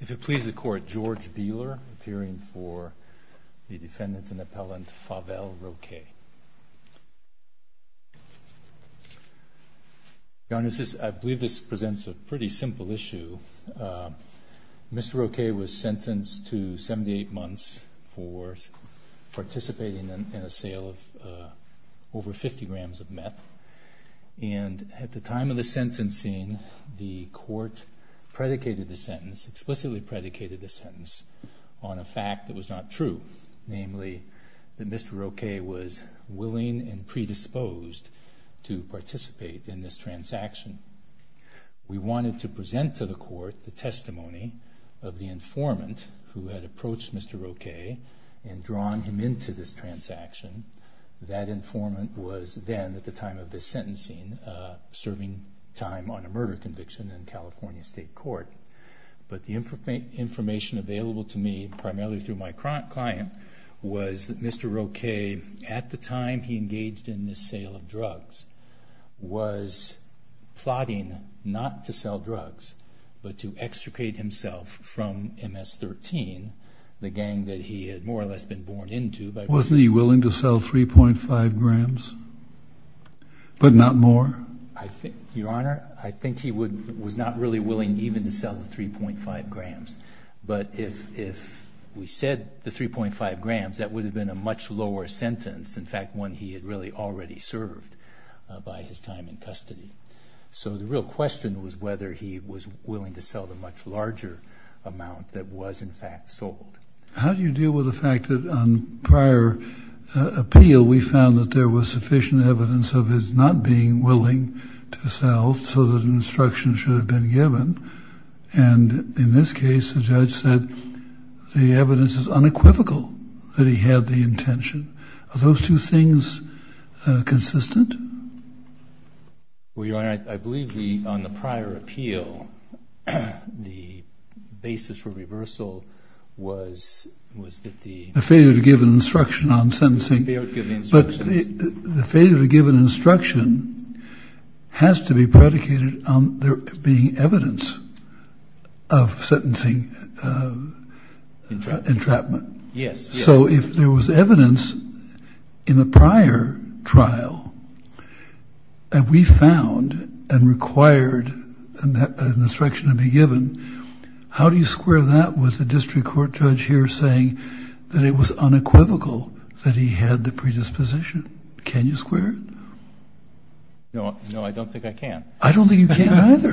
If you'll please the court, George Beeler, appearing for the defendant and appellant Fabel Roque. Your Honor, I believe this presents a pretty simple issue. Mr. Roque was sentenced to 78 months for participating in a sale of over 50 grams of meth. And at the time of the sentencing, the court predicated the sentence, explicitly predicated the sentence, on a fact that was not true. Namely, that Mr. Roque was willing and predisposed to participate in this transaction. We wanted to present to the court the testimony of the informant who had approached Mr. Roque and drawn him into this transaction. That informant was then, at the time of the sentencing, serving time on a murder conviction in California State Court. But the information available to me, primarily through my client, was that Mr. Roque, at the time he engaged in this sale of drugs, was plotting not to sell drugs, but to extricate himself from MS-13, the gang that he had more or less been born into. Wasn't he willing to sell 3.5 grams, but not more? Your Honor, I think he was not really willing even to sell the 3.5 grams. But if we said the 3.5 grams, that would have been a much lower sentence, in fact, one he had really already served by his time in custody. So the real question was whether he was willing to sell the much larger amount that was, in fact, sold. How do you deal with the fact that on prior appeal we found that there was sufficient evidence of his not being willing to sell, so that an instruction should have been given? And in this case, the judge said the evidence is unequivocal that he had the intention. Are those two things consistent? Well, Your Honor, I believe on the prior appeal, the basis for reversal was that the- The failure to give an instruction on sentencing. The failure to give instructions. But the failure to give an instruction has to be predicated on there being evidence of sentencing entrapment. Yes. So if there was evidence in the prior trial that we found and required an instruction to be given, how do you square that with the district court judge here saying that it was unequivocal that he had the predisposition? Can you square it? No, I don't think I can. I don't think you can either.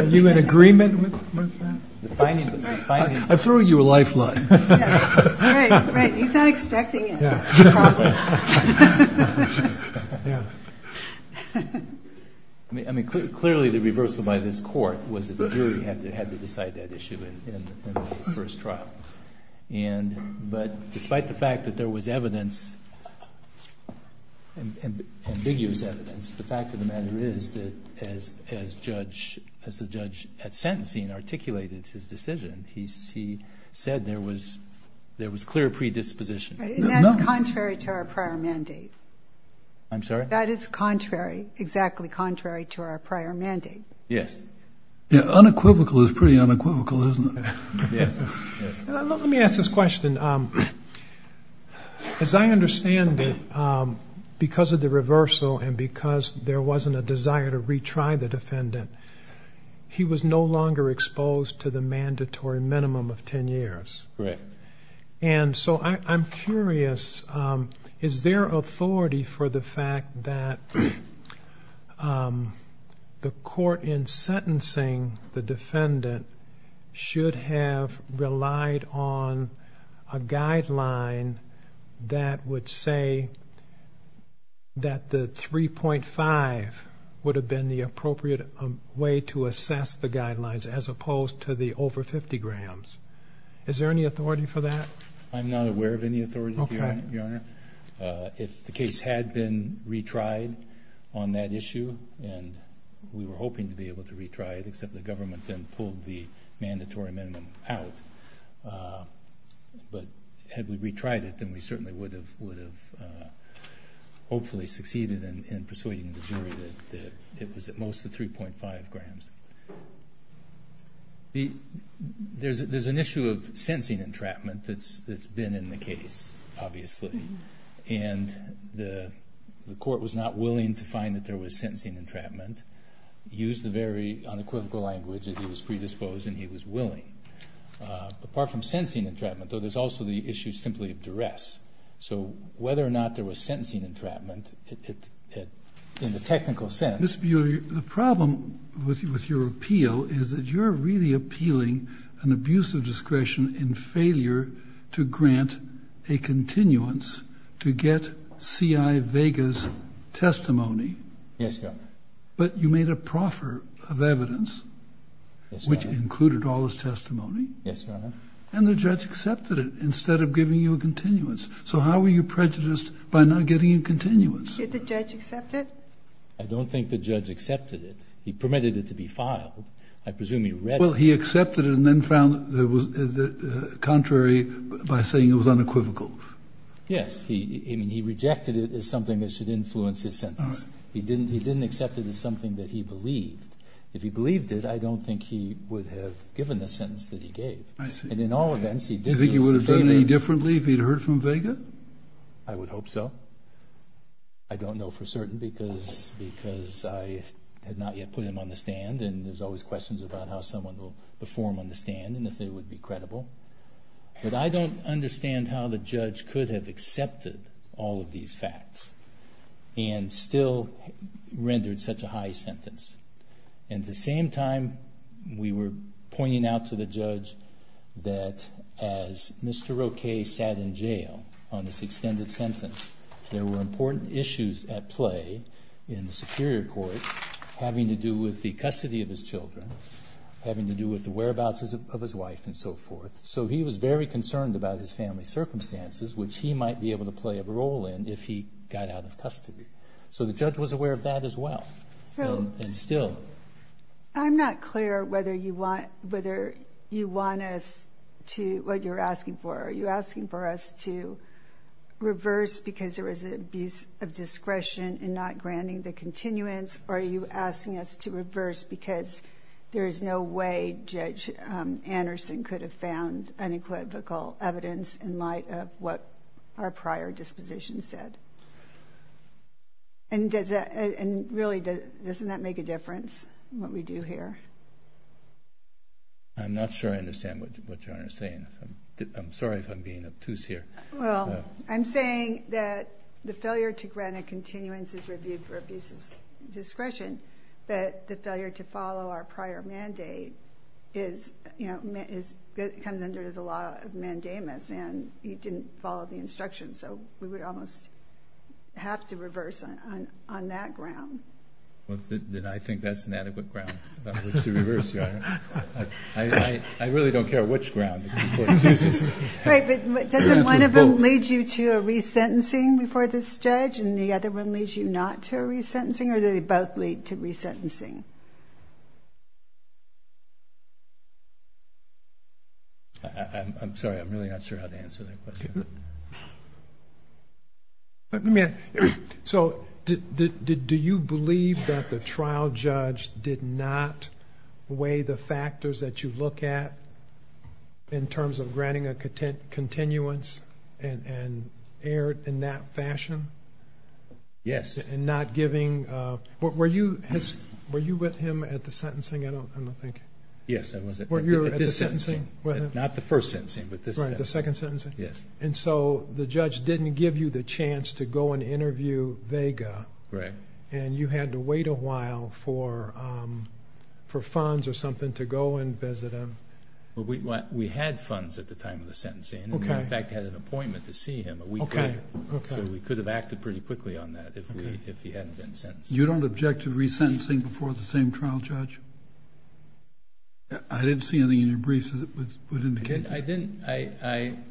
Are you in agreement with that? I'm throwing you a lifeline. Right, right. He's not expecting it. I mean, clearly the reversal by this court was that the jury had to decide that issue in the first trial. But despite the fact that there was evidence, ambiguous evidence, the fact of the matter is that as the judge at sentencing articulated his decision, he said there was clear predisposition. And that's contrary to our prior mandate. I'm sorry? That is contrary, exactly contrary to our prior mandate. Yes. Unequivocal is pretty unequivocal, isn't it? Yes, yes. Let me ask this question. As I understand it, because of the reversal and because there wasn't a desire to retry the defendant, he was no longer exposed to the mandatory minimum of 10 years. Right. And so I'm curious, is there authority for the fact that the court in sentencing the defendant should have relied on a guideline that would say that the 3.5 would have been the appropriate way to assess the guidelines as opposed to the over 50 grams? Is there any authority for that? I'm not aware of any authority, Your Honor. Okay. If the case had been retried on that issue, and we were hoping to be able to retry it, except the government then pulled the mandatory minimum out. But had we retried it, then we certainly would have hopefully succeeded in persuading the jury that it was at most the 3.5 grams. There's an issue of sentencing entrapment that's been in the case, obviously. And the court was not willing to find that there was sentencing entrapment, used the very unequivocal language that he was predisposed and he was willing. Apart from sentencing entrapment, though, there's also the issue simply of duress. So whether or not there was sentencing entrapment in the technical sense. Ms. Beaulieu, the problem with your appeal is that you're really appealing an abuse of discretion in failure to grant a continuance to get C.I. Vega's testimony. Yes, Your Honor. But you made a proffer of evidence, which included all his testimony. Yes, Your Honor. And the judge accepted it instead of giving you a continuance. So how were you prejudiced by not getting a continuance? Did the judge accept it? I don't think the judge accepted it. He permitted it to be filed. I presume he read it. Well, he accepted it and then found that it was contrary by saying it was unequivocal. Yes. I mean, he rejected it as something that should influence his sentence. He didn't accept it as something that he believed. If he believed it, I don't think he would have given the sentence that he gave. I see. And in all events, he did do us a favor. Do you think he would have done any differently if he had heard from Vega? I would hope so. I don't know for certain because I have not yet put him on the stand and there's always questions about how someone will perform on the stand and if they would be credible. But I don't understand how the judge could have accepted all of these facts and still rendered such a high sentence. At the same time, we were pointing out to the judge that as Mr. Roque sat in jail on this extended sentence, there were important issues at play in the superior court having to do with the custody of his children, having to do with the whereabouts of his wife and so forth. So he was very concerned about his family circumstances, which he might be able to play a role in if he got out of custody. So the judge was aware of that as well and still. I'm not clear whether you want us to, what you're asking for. Are you asking for us to reverse because there was an abuse of discretion and not granting the continuance, or are you asking us to reverse because there is no way Judge Anderson could have found unequivocal evidence in light of what our prior disposition said? And really, doesn't that make a difference in what we do here? I'm not sure I understand what you're saying. I'm sorry if I'm being obtuse here. Well, I'm saying that the failure to grant a continuance is reviewed for abuse of discretion, but the failure to follow our prior mandate comes under the law of mandamus, and you didn't follow the instructions. So we would almost have to reverse on that ground. I really don't care which ground you put. Right, but doesn't one of them lead you to a resentencing before this judge and the other one leads you not to a resentencing, or do they both lead to resentencing? I'm sorry, I'm really not sure how to answer that question. So do you believe that the trial judge did not weigh the factors that you look at in terms of granting a continuance and erred in that fashion? Yes. And not giving – were you with him at the sentencing? I don't think. Yes, I was. Were you at the sentencing with him? Not the first sentencing, but the second. The second sentencing? Yes. And so the judge didn't give you the chance to go and interview Vega, and you had to wait a while for funds or something to go and visit him? We had funds at the time of the sentencing, and we in fact had an appointment to see him a week later. So we could have acted pretty quickly on that if he hadn't been sentenced. You don't object to resentencing before the same trial judge? I didn't see anything in your briefs that would indicate that. I didn't.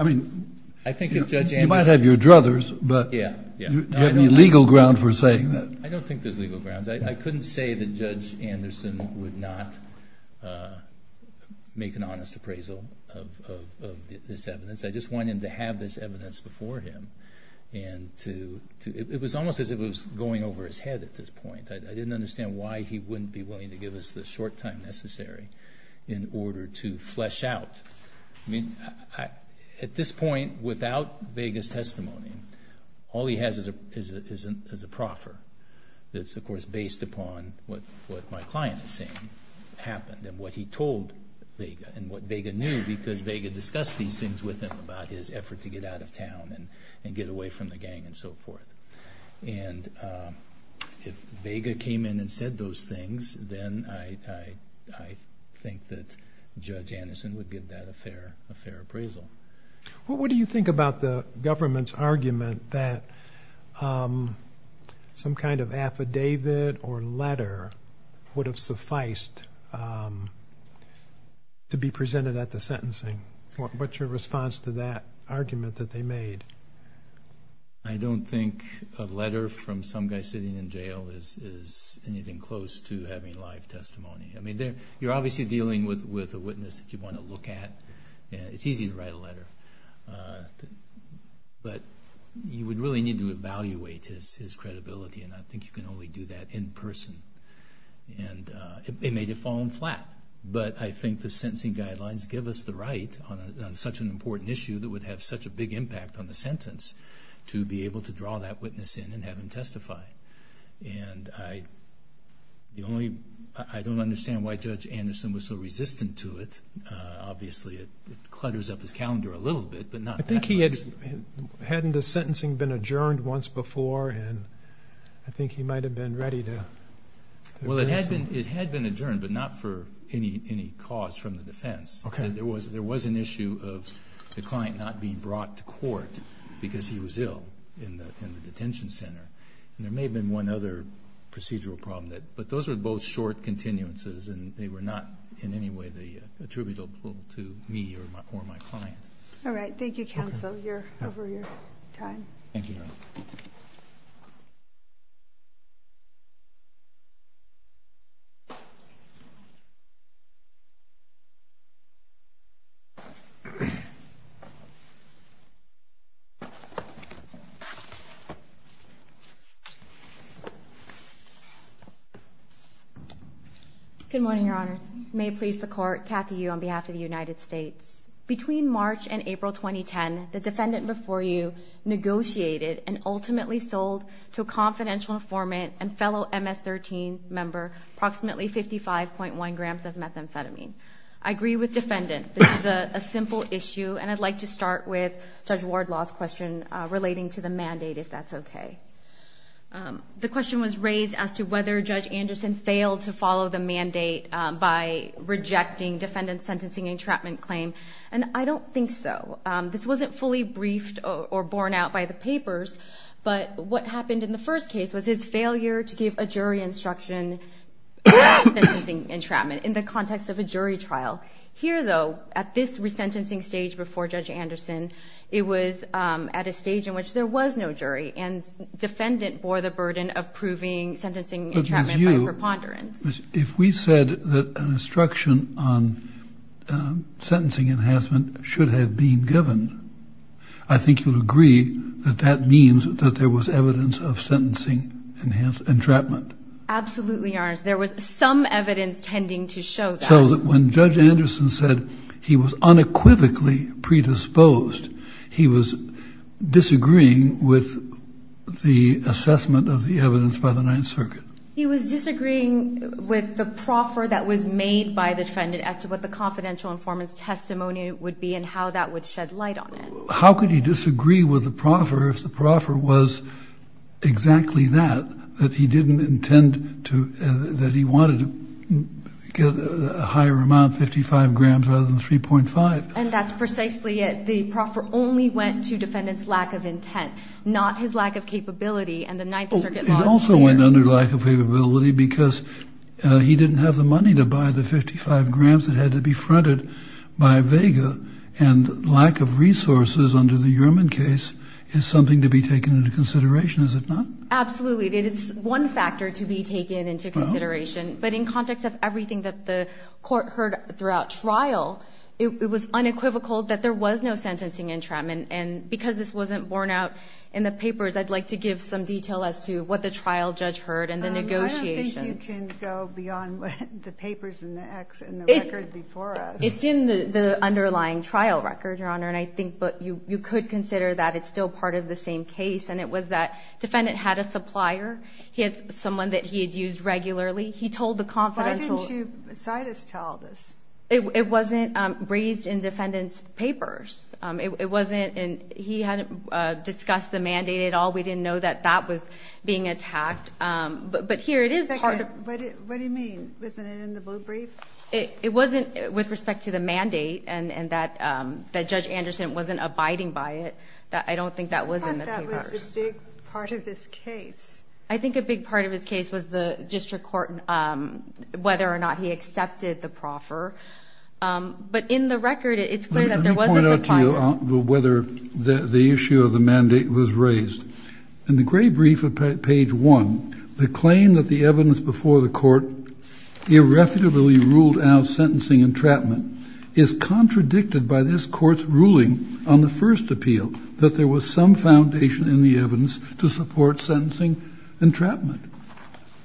You might have your druthers, but do you have any legal ground for saying that? I don't think there's legal grounds. I couldn't say that Judge Anderson would not make an honest appraisal of this evidence. I just wanted him to have this evidence before him. It was almost as if it was going over his head at this point. I didn't understand why he wouldn't be willing to give us the short time necessary in order to flesh out. At this point, without Vega's testimony, all he has is a proffer. It's, of course, based upon what my client is saying happened and what he told Vega and what Vega knew because Vega discussed these things with him about his effort to get out of town and get away from the gang and so forth. If Vega came in and said those things, then I think that Judge Anderson would give that a fair appraisal. What do you think about the government's argument that some kind of affidavit or letter would have sufficed to be presented at the sentencing? What's your response to that argument that they made? I don't think a letter from some guy sitting in jail is anything close to having live testimony. You're obviously dealing with a witness that you want to look at. It's easy to write a letter, but you would really need to evaluate his credibility, and I think you can only do that in person. It may have fallen flat, but I think the sentencing guidelines give us the right on such an important issue that would have such a big impact on the sentence to be able to draw that witness in and have him testify. I don't understand why Judge Anderson was so resistant to it. Obviously, it clutters up his calendar a little bit, but not that much. Hadn't the sentencing been adjourned once before? I think he might have been ready to address it. It had been adjourned, but not for any cause from the defense. Okay. There was an issue of the client not being brought to court because he was ill in the detention center. There may have been one other procedural problem, but those were both short continuances and they were not in any way attributable to me or my client. All right. Thank you, counsel, for your time. Thank you. Good morning, Your Honors. May it please the Court, Kathy Yu on behalf of the United States. Between March and April 2010, the defendant before you negotiated and ultimately sold to a confidential informant and fellow MS-13 member approximately 55.1 grams of methamphetamine. I agree with defendant. This is a simple issue, and I'd like to start with Judge Wardlaw's question relating to the mandate, if that's okay. The question was raised as to whether Judge Anderson failed to follow the mandate by rejecting defendant's sentencing entrapment claim, and I don't think so. This wasn't fully briefed or borne out by the papers, but what happened in the first case was his failure to give a jury instruction on sentencing entrapment in the context of a jury trial. Here, though, at this resentencing stage before Judge Anderson, it was at a stage in which there was no jury, and defendant bore the burden of proving sentencing entrapment by preponderance. If we said that an instruction on sentencing enhancement should have been given, I think you'll agree that that means that there was evidence of sentencing entrapment. Absolutely, Your Honor. There was some evidence tending to show that. So when Judge Anderson said he was unequivocally predisposed, he was disagreeing with the assessment of the evidence by the Ninth Circuit? He was disagreeing with the proffer that was made by the defendant as to what the confidential informant's testimony would be and how that would shed light on it. How could he disagree with the proffer if the proffer was exactly that, that he didn't intend to, that he wanted to get a higher amount, 55 grams rather than 3.5? And that's precisely it. The proffer only went to defendant's lack of intent, not his lack of capability and the Ninth Circuit law's fear. It also went under lack of capability because he didn't have the money to buy the 55 grams that had to be fronted by Vega and lack of resources under the Uriman case is something to be taken into consideration, is it not? Absolutely. It is one factor to be taken into consideration. But in context of everything that the court heard throughout trial, it was unequivocal that there was no sentencing entrapment. And because this wasn't borne out in the papers, I'd like to give some detail as to what the trial judge heard and the negotiations. I don't think you can go beyond the papers and the record before us. It's in the underlying trial record, Your Honor, and I think you could consider that it's still part of the same case, and it was that defendant had a supplier. He had someone that he had used regularly. He told the confidential. Why didn't you beside us tell this? It wasn't raised in defendant's papers. It wasn't in he had discussed the mandate at all. We didn't know that that was being attacked. But here it is part of. What do you mean? Wasn't it in the blue brief? It wasn't with respect to the mandate and that Judge Anderson wasn't abiding by it. I don't think that was in the papers. I thought that was a big part of this case. I think a big part of this case was the district court, whether or not he accepted the proffer. But in the record, it's clear that there was a supplier. Let me point out to you whether the issue of the mandate was raised. In the gray brief at page one, the claim that the evidence before the court irrefutably ruled out sentencing entrapment is contradicted by this court's ruling on the first appeal that there was some foundation in the evidence to support sentencing entrapment.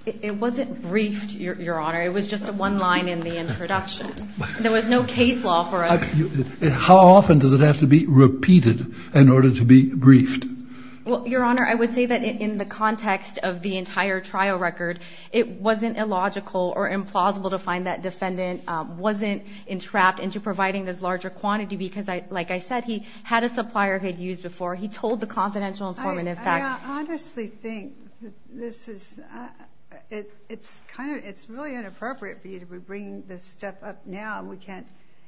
It wasn't briefed, Your Honor. It was just one line in the introduction. There was no case law for us. How often does it have to be repeated in order to be briefed? Your Honor, I would say that in the context of the entire trial record, it wasn't illogical or implausible to find that defendant wasn't entrapped into providing this larger quantity because, like I said, he had a supplier he had used before. He told the confidential informant, in fact. I honestly think it's really inappropriate for you to be bringing this stuff up now.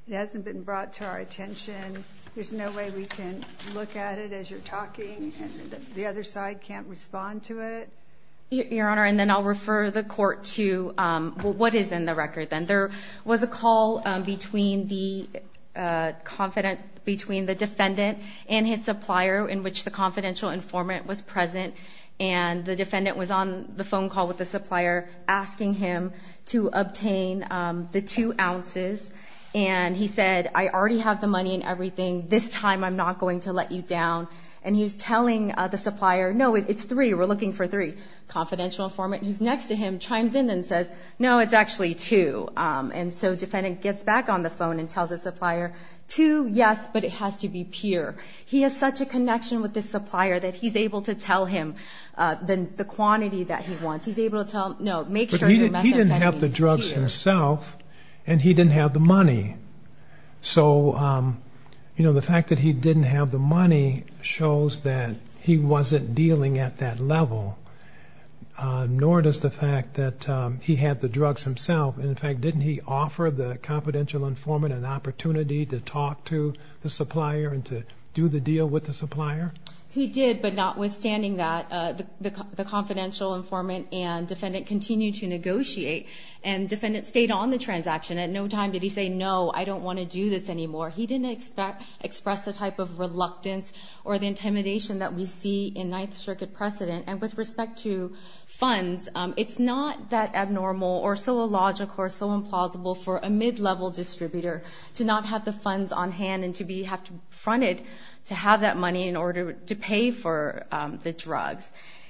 It hasn't been brought to our attention. There's no way we can look at it as you're talking and the other side can't respond to it. Your Honor, and then I'll refer the court to what is in the record. There was a call between the defendant and his supplier in which the confidential informant was present, and the defendant was on the phone call with the supplier asking him to obtain the two ounces. And he said, I already have the money and everything. This time I'm not going to let you down. And he was telling the supplier, no, it's three. We're looking for three. The confidential informant who's next to him chimes in and says, no, it's actually two. And so the defendant gets back on the phone and tells the supplier, two, yes, but it has to be pure. He has such a connection with this supplier that he's able to tell him the quantity that he wants. He's able to tell him, no, make sure your methadone is pure. But he didn't have the drugs himself, and he didn't have the money. So, you know, the fact that he didn't have the money shows that he wasn't dealing at that level, nor does the fact that he had the drugs himself. And, in fact, didn't he offer the confidential informant an opportunity to talk to the supplier and to do the deal with the supplier? He did, but notwithstanding that, the confidential informant and defendant continued to negotiate, and the defendant stayed on the transaction. At no time did he say, no, I don't want to do this anymore. He didn't express the type of reluctance or the intimidation that we see in Ninth Circuit precedent. And with respect to funds, it's not that abnormal or so illogical or so implausible for a mid-level distributor to not have the funds on hand and to have to be fronted to have that money in order to pay for the drugs.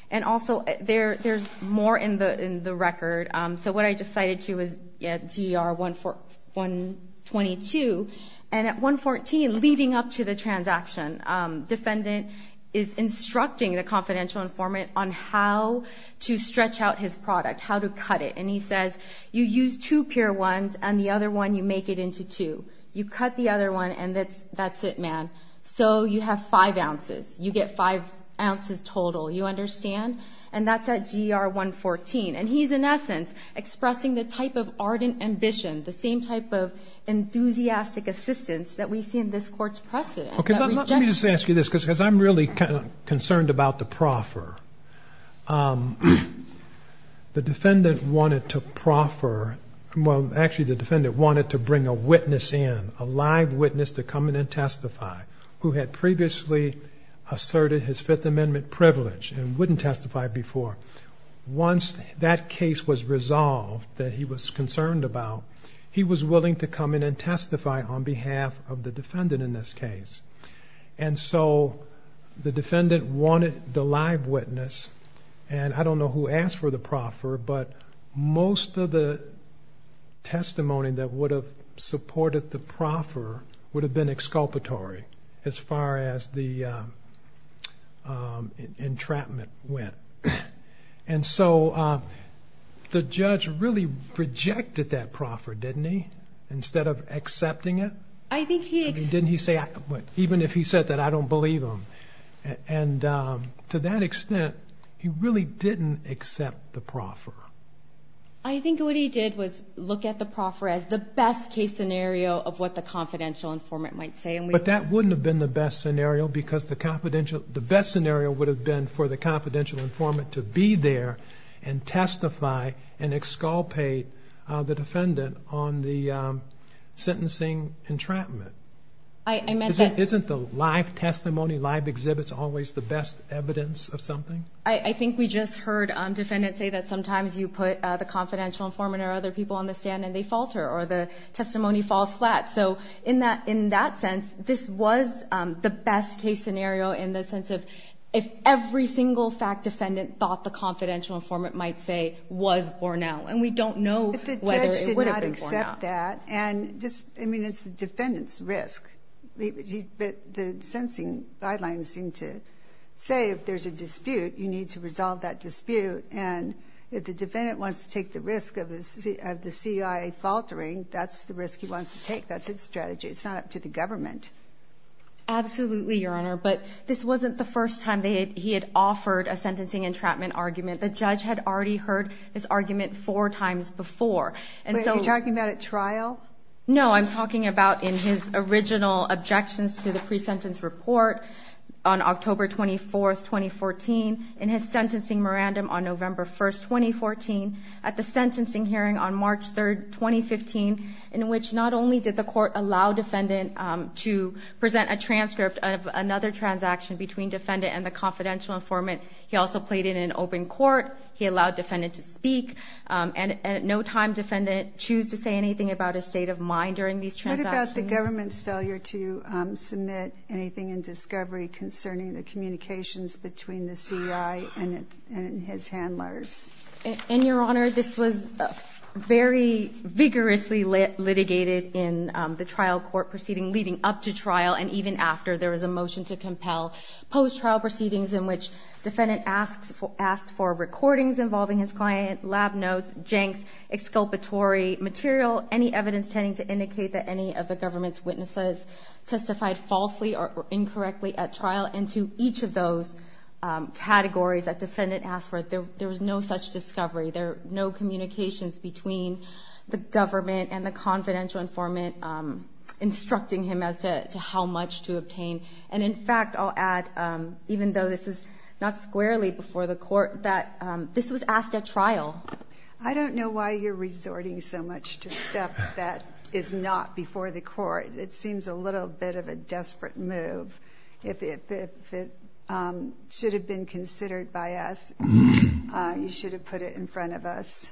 And also, there's more in the record. So what I just cited to you is GR-122, and at 114, leading up to the transaction, defendant is instructing the confidential informant on how to stretch out his product, how to cut it. And he says, you use two pure ones, and the other one you make it into two. You cut the other one, and that's it, man. So you have five ounces. You get five ounces total. You understand? And that's at GR-114. And he's, in essence, expressing the type of ardent ambition, the same type of enthusiastic assistance that we see in this Court's precedent. Okay, let me just ask you this, because I'm really concerned about the proffer. The defendant wanted to proffer, well, actually the defendant wanted to bring a witness in, a live witness to come in and testify, who had previously asserted his Fifth Amendment privilege and wouldn't testify before. Once that case was resolved that he was concerned about, he was willing to come in and testify on behalf of the defendant in this case. And so the defendant wanted the live witness, and I don't know who asked for the proffer, but most of the testimony that would have supported the proffer would have been exculpatory, as far as the entrapment went. And so the judge really rejected that proffer, didn't he, instead of accepting it? I think he accepted it. Didn't he say, even if he said that, I don't believe him. And to that extent, he really didn't accept the proffer. I think what he did was look at the proffer as the best case scenario of what the confidential informant might say. But that wouldn't have been the best scenario, because the best scenario would have been for the confidential informant to be there and testify and exculpate the defendant on the sentencing entrapment. Isn't the live testimony, live exhibits always the best evidence of something? I think we just heard defendants say that sometimes you put the confidential informant or other people on the stand and they falter or the testimony falls flat. So in that sense, this was the best case scenario in the sense of if every single fact defendant thought the confidential informant might say was Bornell. And we don't know whether it would have been Bornell. But the judge did not accept that. And just, I mean, it's the defendant's risk. But the sentencing guidelines seem to say if there's a dispute, you need to resolve that dispute. And if the defendant wants to take the risk of the CIA faltering, that's the risk he wants to take. That's his strategy. It's not up to the government. Absolutely, Your Honor. But this wasn't the first time he had offered a sentencing entrapment argument. The judge had already heard this argument four times before. But are you talking about at trial? No, I'm talking about in his original objections to the pre-sentence report on October 24, 2014, in his sentencing mirandum on November 1, 2014, at the sentencing hearing on March 3, 2015, in which not only did the court allow defendant to present a transcript of another transaction between defendant and the confidential informant. He also played it in open court. He allowed defendant to speak. And at no time did defendant choose to say anything about his state of mind during these transactions. What about the government's failure to submit anything in discovery concerning the communications between the CI and his handlers? And, Your Honor, this was very vigorously litigated in the trial court proceeding leading up to trial and even after there was a motion to compel post-trial proceedings in which defendant asked for recordings involving his client, lab notes, janks, exculpatory material, any evidence tending to indicate that any of the government's witnesses testified falsely or incorrectly at trial. And to each of those categories that defendant asked for, there was no such discovery. There were no communications between the government and the confidential informant instructing him as to how much to obtain. And, in fact, I'll add, even though this is not squarely before the court, that this was asked at trial. I don't know why you're resorting so much to stuff that is not before the court. It seems a little bit of a desperate move. If it should have been considered by us, you should have put it in front of us.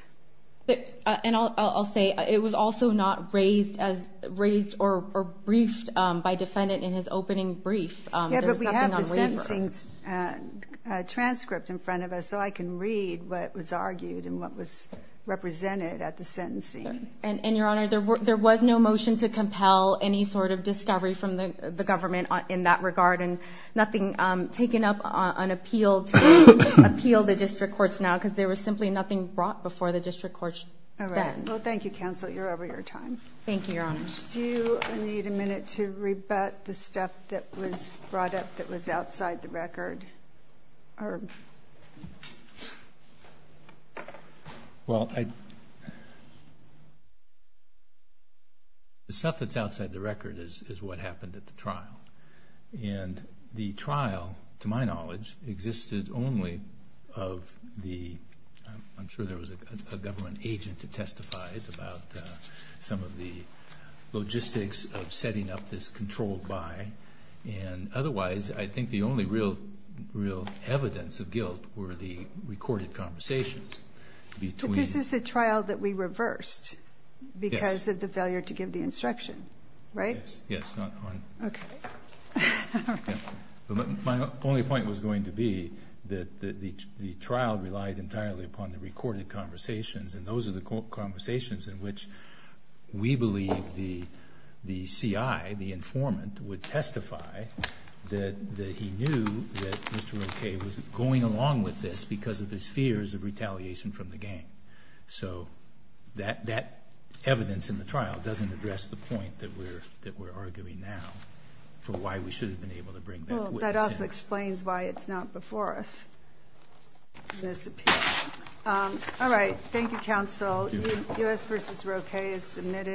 And I'll say it was also not raised or briefed by defendant in his opening brief. Yeah, but we have the sentencing transcript in front of us, so I can read what was argued and what was represented at the sentencing. And, Your Honor, there was no motion to compel any sort of discovery from the government in that regard and nothing taken up on appeal to appeal the district courts now because there was simply nothing brought before the district courts then. All right. Well, thank you, counsel. You're over your time. Thank you, Your Honor. Do you need a minute to rebut the stuff that was brought up that was outside the record? Well, the stuff that's outside the record is what happened at the trial. And the trial, to my knowledge, existed only of the I'm sure there was a government agent that testified about some of the logistics of setting up this controlled by. And otherwise, I think the only real evidence of guilt were the recorded conversations between But this is the trial that we reversed because of the failure to give the instruction, right? Yes. Okay. My only point was going to be that the trial relied entirely upon the recorded conversations and those are the conversations in which we believe the CI, the informant, would testify that he knew that Mr. O.K. was going along with this because of his fears of retaliation from the gang. So that evidence in the trial doesn't address the point that we're arguing now for why we should have been able to bring that witness in. Well, that also explains why it's not before us, this appeal. All right. Thank you, counsel. Thank you, Your Honor. U.S. v. Roe K. is submitted.